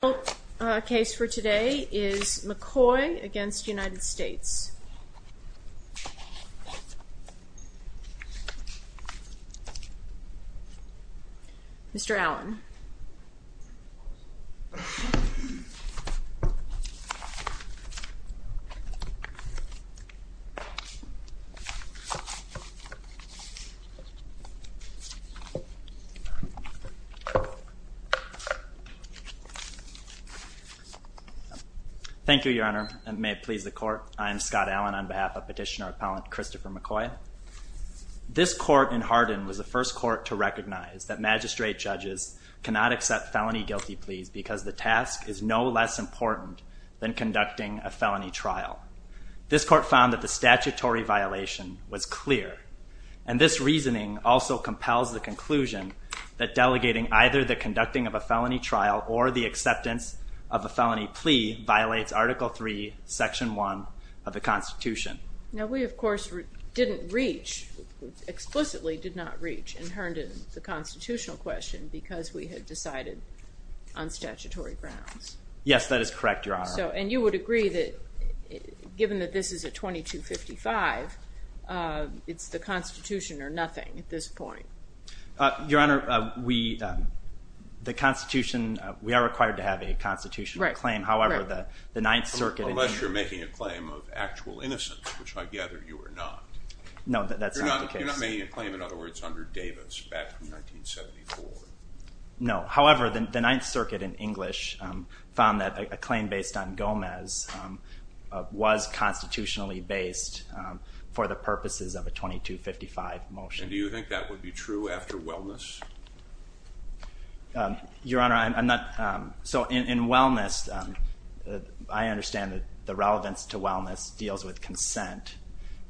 The final case for today is McCoy v. United States. Mr. Allen. Thank you, Your Honor, and may it please the Court, I am Scott Allen on behalf of Petitioner-Appellant Christopher McCoy. This court in Hardin was the first court to recognize that magistrate judges cannot accept felony guilty pleas because the task is no less important than conducting a felony trial. This court found that the statutory violation was clear, and this reasoning also compels the conclusion that delegating either the conducting of a felony trial or the acceptance of a felony plea violates Article III, Section 1 of the Constitution. Now, we, of course, didn't reach, explicitly did not reach in Hardin the constitutional question because we had decided on statutory grounds. Yes, that is correct, Your Honor. And you would agree that, given that this is a 2255, it's the Constitution or nothing at this point. Your Honor, we, the Constitution, we are required to have a constitutional claim, however, the Ninth Circuit Unless you're making a claim of actual innocence, which I gather you are not. No, that's not the case. You're not making a claim, in other words, under Davis back in 1974. No, however, the Ninth Circuit in English found that a claim based on Gomez was constitutionally based for the purposes of a 2255 motion. And do you think that would be true after Wellness? Your Honor, I'm not, so in Wellness, I understand that the relevance to Wellness deals with consent,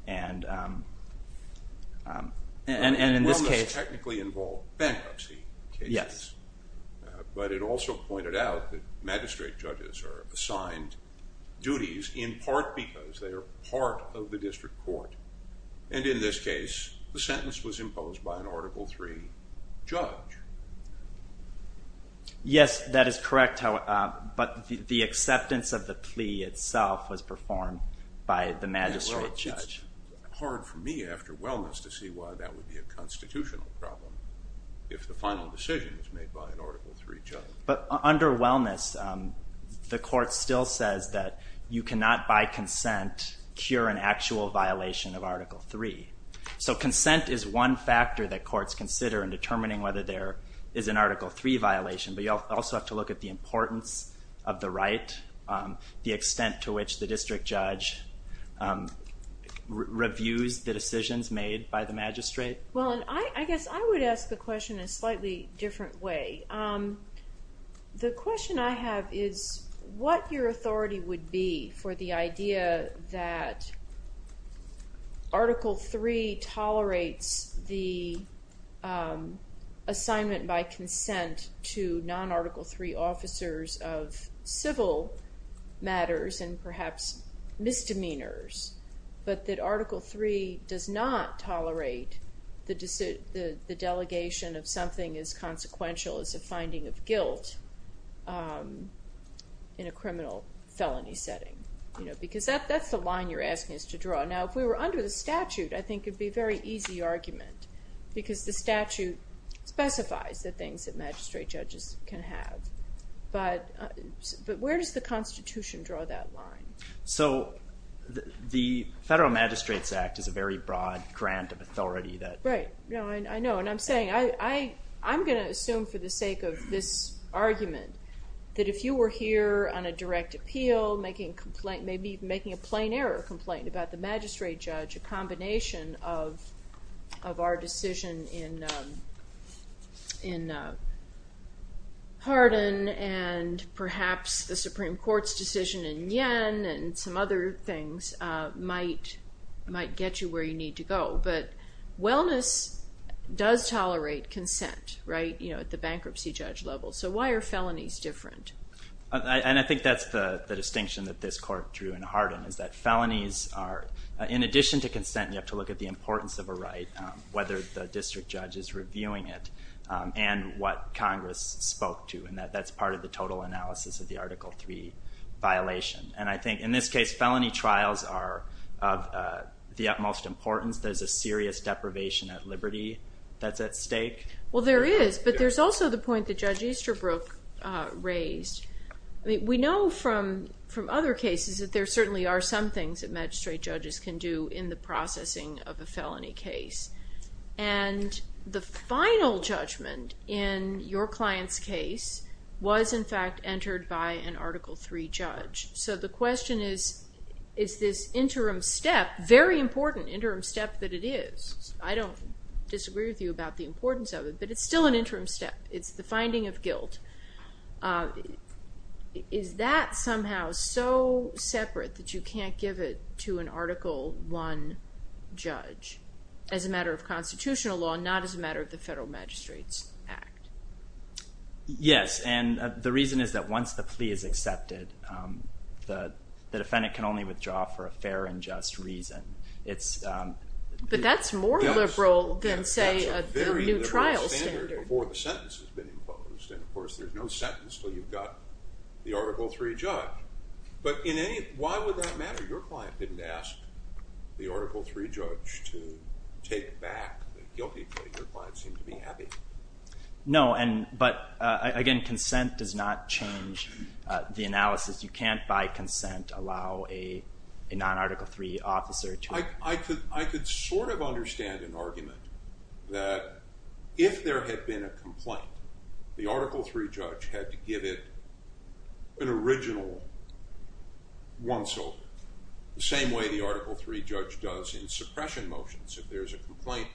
and in this case it technically involved bankruptcy cases. Yes. But it also pointed out that magistrate judges are assigned duties in part because they are part of the district court. And in this case, the sentence was imposed by an Article III judge. Yes, that is correct, but the acceptance of the plea itself was performed by the magistrate judge. It's hard for me after Wellness to see why that would be a constitutional problem if the final decision is made by an Article III judge. But under Wellness, the court still says that you cannot by consent cure an actual violation of Article III. So consent is one factor that courts consider in determining whether there is an Article III violation, but you also have to look at the importance of the right, the extent to which the district judge reviews the decisions made by the magistrate. Well, and I guess I would ask the question in a slightly different way. The question I have is what your authority would be for the idea that Article III tolerates the assignment by consent to non-Article III officers of civil matters and perhaps misdemeanors, but that Article III does not tolerate the delegation of something as consequential as a finding of guilt in a criminal felony setting? Because that's the line you're asking us to draw. Now, if we were under the statute, I think it would be a very easy argument because the statute specifies the things that magistrate judges can have. But where does the Constitution draw that line? So the Federal Magistrates Act is a very broad grant of authority. Right. I know. And I'm saying I'm going to assume for the sake of this argument that if you were here on a direct appeal, maybe making a plain error complaint about the magistrate judge, a combination of our decision in Hardin and perhaps the Supreme Court's decision in Yen and some other things might get you where you need to go. But wellness does tolerate consent, right, at the bankruptcy judge level. So why are felonies different? And I think that's the distinction that this court drew in Hardin is that felonies are, in addition to consent, you have to look at the importance of a right, whether the district judge is reviewing it, and what Congress spoke to. And that's part of the total analysis of the Article III violation. And I think in this case felony trials are of the utmost importance. There's a serious deprivation of liberty that's at stake. Well, there is. But there's also the point that Judge Easterbrook raised. We know from other cases that there certainly are some things that magistrate judges can do in the processing of a felony case. And the final judgment in your client's case was, in fact, entered by an Article III judge. So the question is, is this interim step, very important interim step that it is? I don't disagree with you about the importance of it, but it's still an interim step. It's the finding of guilt. Is that somehow so separate that you can't give it to an Article I judge as a matter of constitutional law, not as a matter of the Federal Magistrates Act? Yes, and the reason is that once the plea is accepted, the defendant can only withdraw for a fair and just reason. But that's more liberal than, say, a new trial standard. That's a very liberal standard before the sentence has been imposed. And, of course, there's no sentence until you've got the Article III judge. But why would that matter? Your client didn't ask the Article III judge to take back the guilty plea. Your client seemed to be happy. No, but, again, consent does not change the analysis. You can't, by consent, allow a non-Article III officer to— I could sort of understand an argument that if there had been a complaint, the Article III judge had to give it an original one-sided, the same way the Article III judge does in suppression motions. If there's a complaint,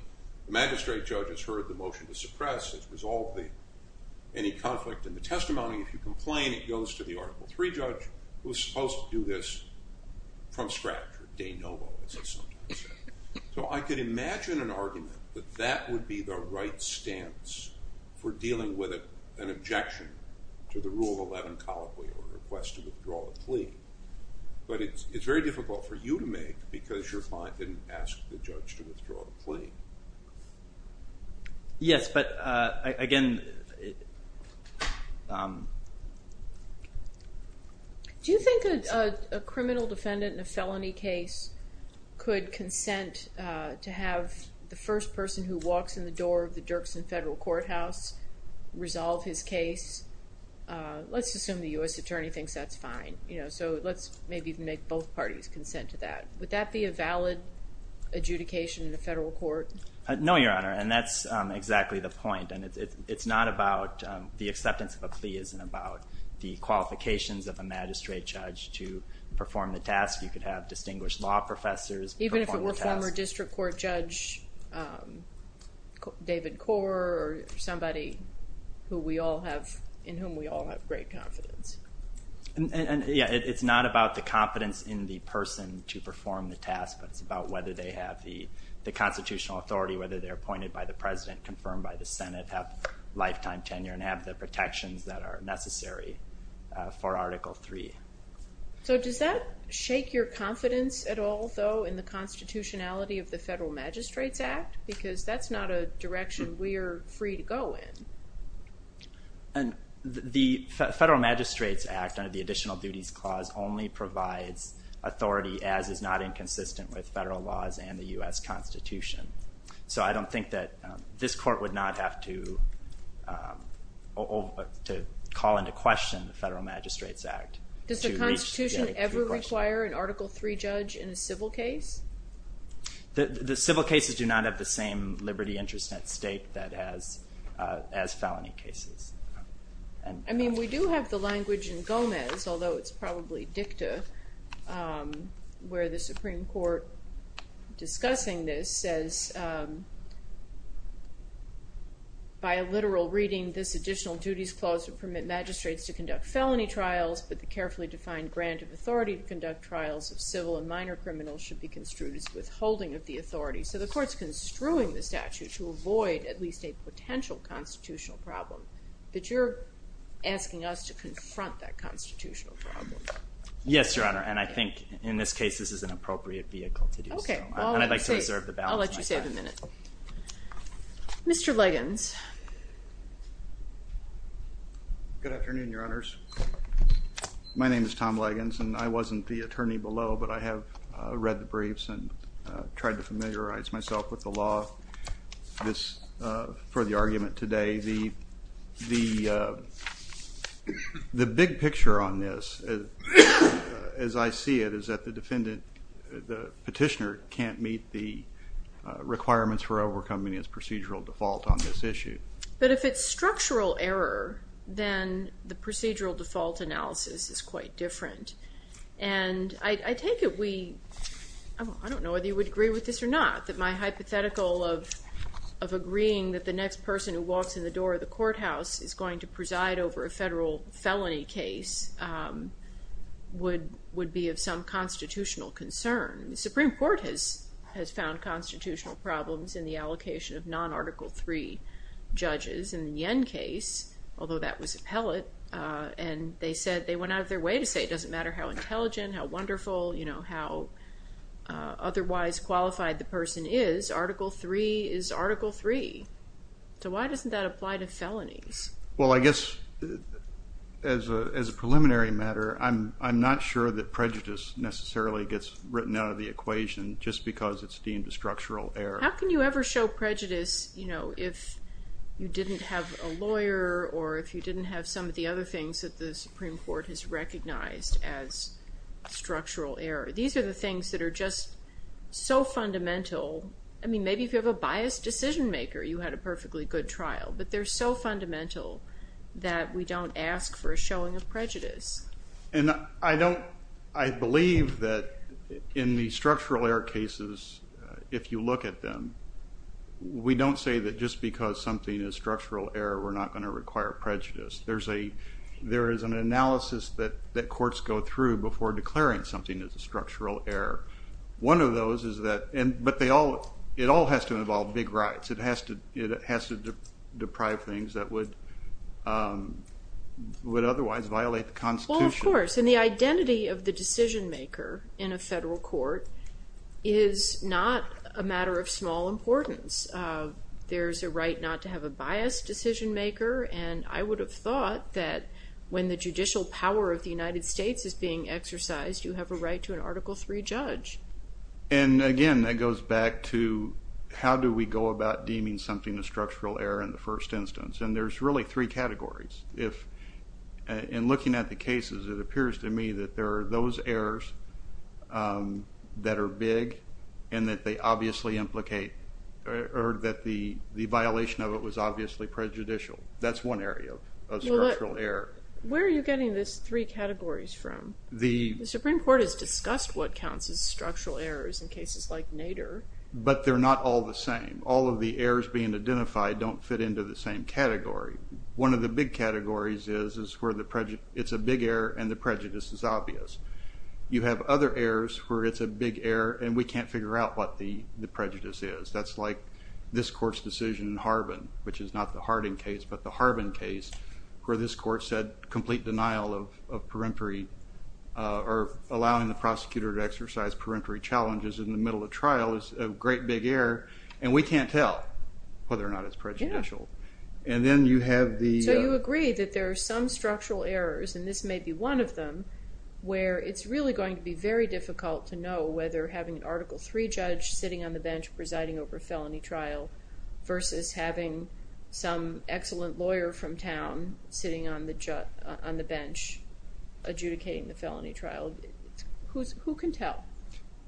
the magistrate judge has heard the motion to suppress. It's resolved any conflict in the testimony. If you complain, it goes to the Article III judge, who's supposed to do this from scratch, or de novo, as they sometimes say. So I could imagine an argument that that would be the right stance for dealing with an objection to the Rule of Eleven colloquial request to withdraw the plea. But it's very difficult for you to make because your client didn't ask the judge to withdraw the plea. Yes, but, again— Do you think a criminal defendant in a felony case could consent to have the first person who walks in the door of the Dirksen federal courthouse resolve his case? Let's assume the U.S. attorney thinks that's fine. So let's maybe make both parties consent to that. Would that be a valid adjudication in a federal court? No, Your Honor, and that's exactly the point. And it's not about—the acceptance of a plea isn't about the qualifications of a magistrate judge to perform the task. You could have distinguished law professors perform the task. Even if it were a former district court judge, David Kor, or somebody in whom we all have great confidence. And, yeah, it's not about the confidence in the person to perform the task. It's about whether they have the constitutional authority, whether they're appointed by the president, confirmed by the Senate, have lifetime tenure, and have the protections that are necessary for Article III. So does that shake your confidence at all, though, in the constitutionality of the Federal Magistrates Act? Because that's not a direction we are free to go in. The Federal Magistrates Act, under the Additional Duties Clause, only provides authority as is not inconsistent with federal laws and the U.S. Constitution. So I don't think that this court would not have to call into question the Federal Magistrates Act. Does the Constitution ever require an Article III judge in a civil case? The civil cases do not have the same liberty, interest, and at stake as felony cases. I mean, we do have the language in Gomez, although it's probably dicta, where the Supreme Court, discussing this, says, by a literal reading, this Additional Duties Clause would permit magistrates to conduct felony trials, but the carefully defined grant of authority to conduct trials of civil and minor criminals should be construed as withholding of the authority. So the Court's construing the statute to avoid at least a potential constitutional problem. But you're asking us to confront that constitutional problem. Yes, Your Honor, and I think in this case this is an appropriate vehicle to do so. And I'd like to reserve the balance of my time. I'll let you save a minute. Mr. Liggins. Good afternoon, Your Honors. My name is Tom Liggins, and I wasn't the attorney below, but I have read the briefs and tried to familiarize myself with the law for the argument today. The big picture on this, as I see it, is that the petitioner can't meet the requirements for overcoming his procedural default on this issue. But if it's structural error, then the procedural default analysis is quite different. And I take it we, I don't know whether you would agree with this or not, that my hypothetical of agreeing that the next person who walks in the door of the courthouse is going to preside over a federal felony case would be of some constitutional concern. The Supreme Court has found constitutional problems in the allocation of non-Article III judges in the Yen case, although that was appellate. And they said, they went out of their way to say it doesn't matter how intelligent, how wonderful, you know, how otherwise qualified the person is, Article III is Article III. So why doesn't that apply to felonies? Well, I guess as a preliminary matter, I'm not sure that prejudice necessarily gets written out of the equation just because it's deemed a structural error. How can you ever show prejudice, you know, if you didn't have a lawyer or if you didn't have some of the other things that the Supreme Court has recognized as structural error? These are the things that are just so fundamental. I mean, maybe if you have a biased decision maker, you had a perfectly good trial. But they're so fundamental that we don't ask for a showing of prejudice. And I believe that in the structural error cases, if you look at them, we don't say that just because something is structural error, we're not going to require prejudice. There is an analysis that courts go through before declaring something as a structural error. One of those is that, but it all has to involve big rights. It has to deprive things that would otherwise violate the Constitution. Well, of course. And the identity of the decision maker in a federal court is not a matter of small importance. There's a right not to have a biased decision maker. And I would have thought that when the judicial power of the United States is being exercised, you have a right to an Article III judge. And again, that goes back to how do we go about deeming something a structural error in the first instance? And there's really three categories. In looking at the cases, it appears to me that there are those errors that are big and that they obviously implicate or that the violation of it was obviously prejudicial. That's one area of structural error. Where are you getting these three categories from? The Supreme Court has discussed what counts as structural errors in cases like Nader. But they're not all the same. All of the errors being identified don't fit into the same category. One of the big categories is where it's a big error and the prejudice is obvious. You have other errors where it's a big error and we can't figure out what the prejudice is. That's like this court's decision in Harbin, which is not the Harding case, but the Harbin case, where this court said complete denial of perentory or allowing the prosecutor to exercise perentory challenges in the middle of trial is a great big error. And we can't tell whether or not it's prejudicial. So you agree that there are some structural errors, and this may be one of them, where it's really going to be very difficult to know whether having an Article III judge sitting on the bench presiding over a felony trial versus having some excellent lawyer from town sitting on the bench adjudicating the felony trial. Who can tell?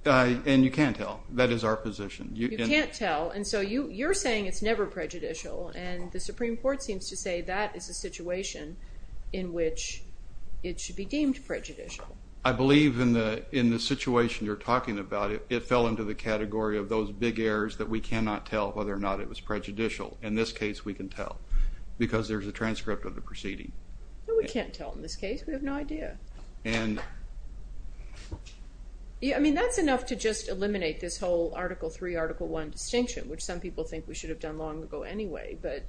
And you can't tell. That is our position. You can't tell. And so you're saying it's never prejudicial, and the Supreme Court seems to say that is a situation in which it should be deemed prejudicial. I believe in the situation you're talking about, it fell into the category of those big errors that we cannot tell whether or not it was prejudicial. In this case, we can tell because there's a transcript of the proceeding. No, we can't tell in this case. We have no idea. I mean, that's enough to just eliminate this whole Article III, Article I distinction, which some people think we should have done long ago anyway. But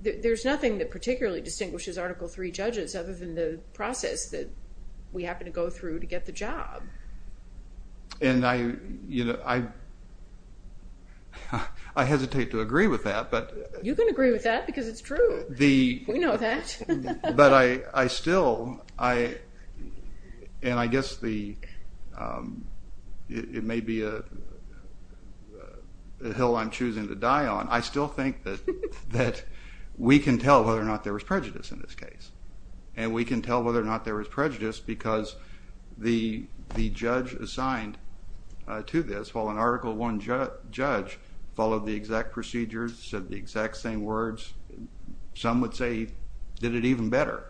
there's nothing that particularly distinguishes Article III judges other than the process that we happen to go through to get the job. And I hesitate to agree with that. You can agree with that because it's true. We know that. But I still, and I guess it may be a hill I'm choosing to die on, I still think that we can tell whether or not there was prejudice in this case. And we can tell whether or not there was prejudice because the judge assigned to this, while an Article I judge followed the exact procedures, said the exact same words, some would say he did it even better.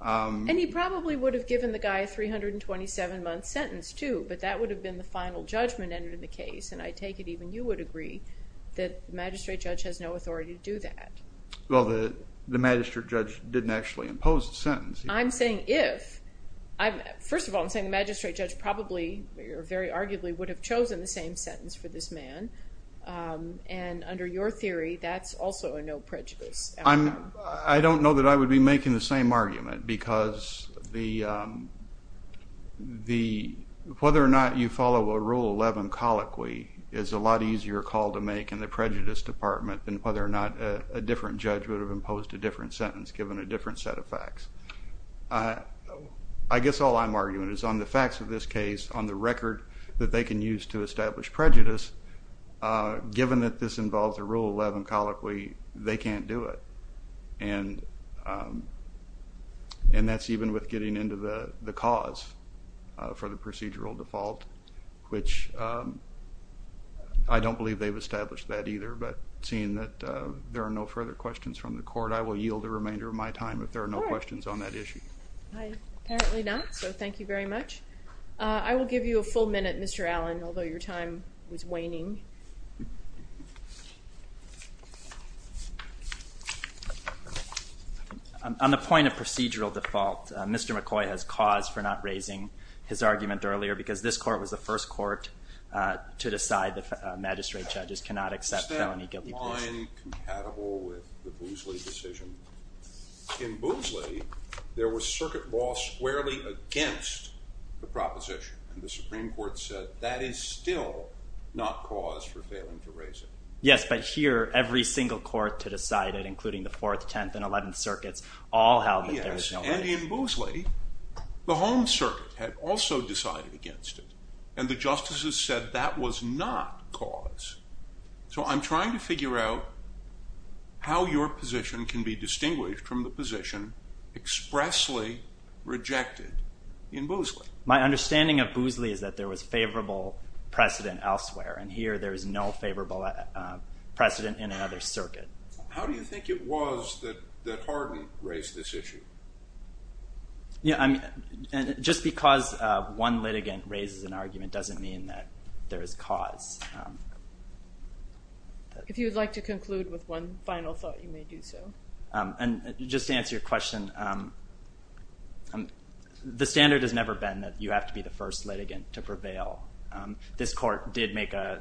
And he probably would have given the guy a 327-month sentence, too. But that would have been the final judgment entered in the case. And I take it even you would agree that the magistrate judge has no authority to do that. Well, the magistrate judge didn't actually impose the sentence. I'm saying if. First of all, I'm saying the magistrate judge probably or very arguably would have chosen the same sentence for this man. And under your theory, that's also a no prejudice. I don't know that I would be making the same argument because whether or not you follow a Rule 11 colloquy is a lot easier call to make in the prejudice department than whether or not a different judge would have imposed a different sentence given a different set of facts. I guess all I'm arguing is on the facts of this case, on the record that they can use to establish prejudice, given that this involves a Rule 11 colloquy, they can't do it. And that's even with getting into the cause for the procedural default, which I don't believe they've established that either. But seeing that there are no further questions from the court, I will yield the remainder of my time if there are no questions on that issue. All right. I apparently not, so thank you very much. I will give you a full minute, Mr. Allen, although your time was waning. On the point of procedural default, Mr. McCoy has cause for not raising his argument earlier because this court was the first court to decide that magistrate judges cannot accept felonies. In Boosley, there was circuit law squarely against the proposition, and the Supreme Court said that is still not cause for failing to raise it. Yes, but here, every single court to decide it, including the 4th, 10th, and 11th circuits, all held that there is no reason. Yes, and in Boosley, the home circuit had also decided against it, and the justices said that was not cause. So I'm trying to figure out how your position can be distinguished from the position expressly rejected in Boosley. My understanding of Boosley is that there was favorable precedent elsewhere, and here there is no favorable precedent in another circuit. How do you think it was that Hardin raised this issue? Just because one litigant raises an argument doesn't mean that there is cause. If you would like to conclude with one final thought, you may do so. Just to answer your question, the standard has never been that you have to be the first litigant to prevail. This court did make a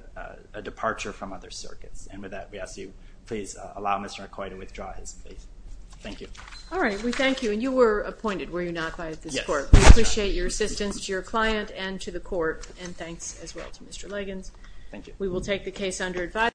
departure from other circuits, and with that, we ask you please allow Mr. McCoy to withdraw his case. Thank you. All right, we thank you, and you were appointed, were you not, by this court? Yes. We appreciate your assistance to your client and to the court, and thanks as well to Mr. Liggins. Thank you. We will take the case under advisory.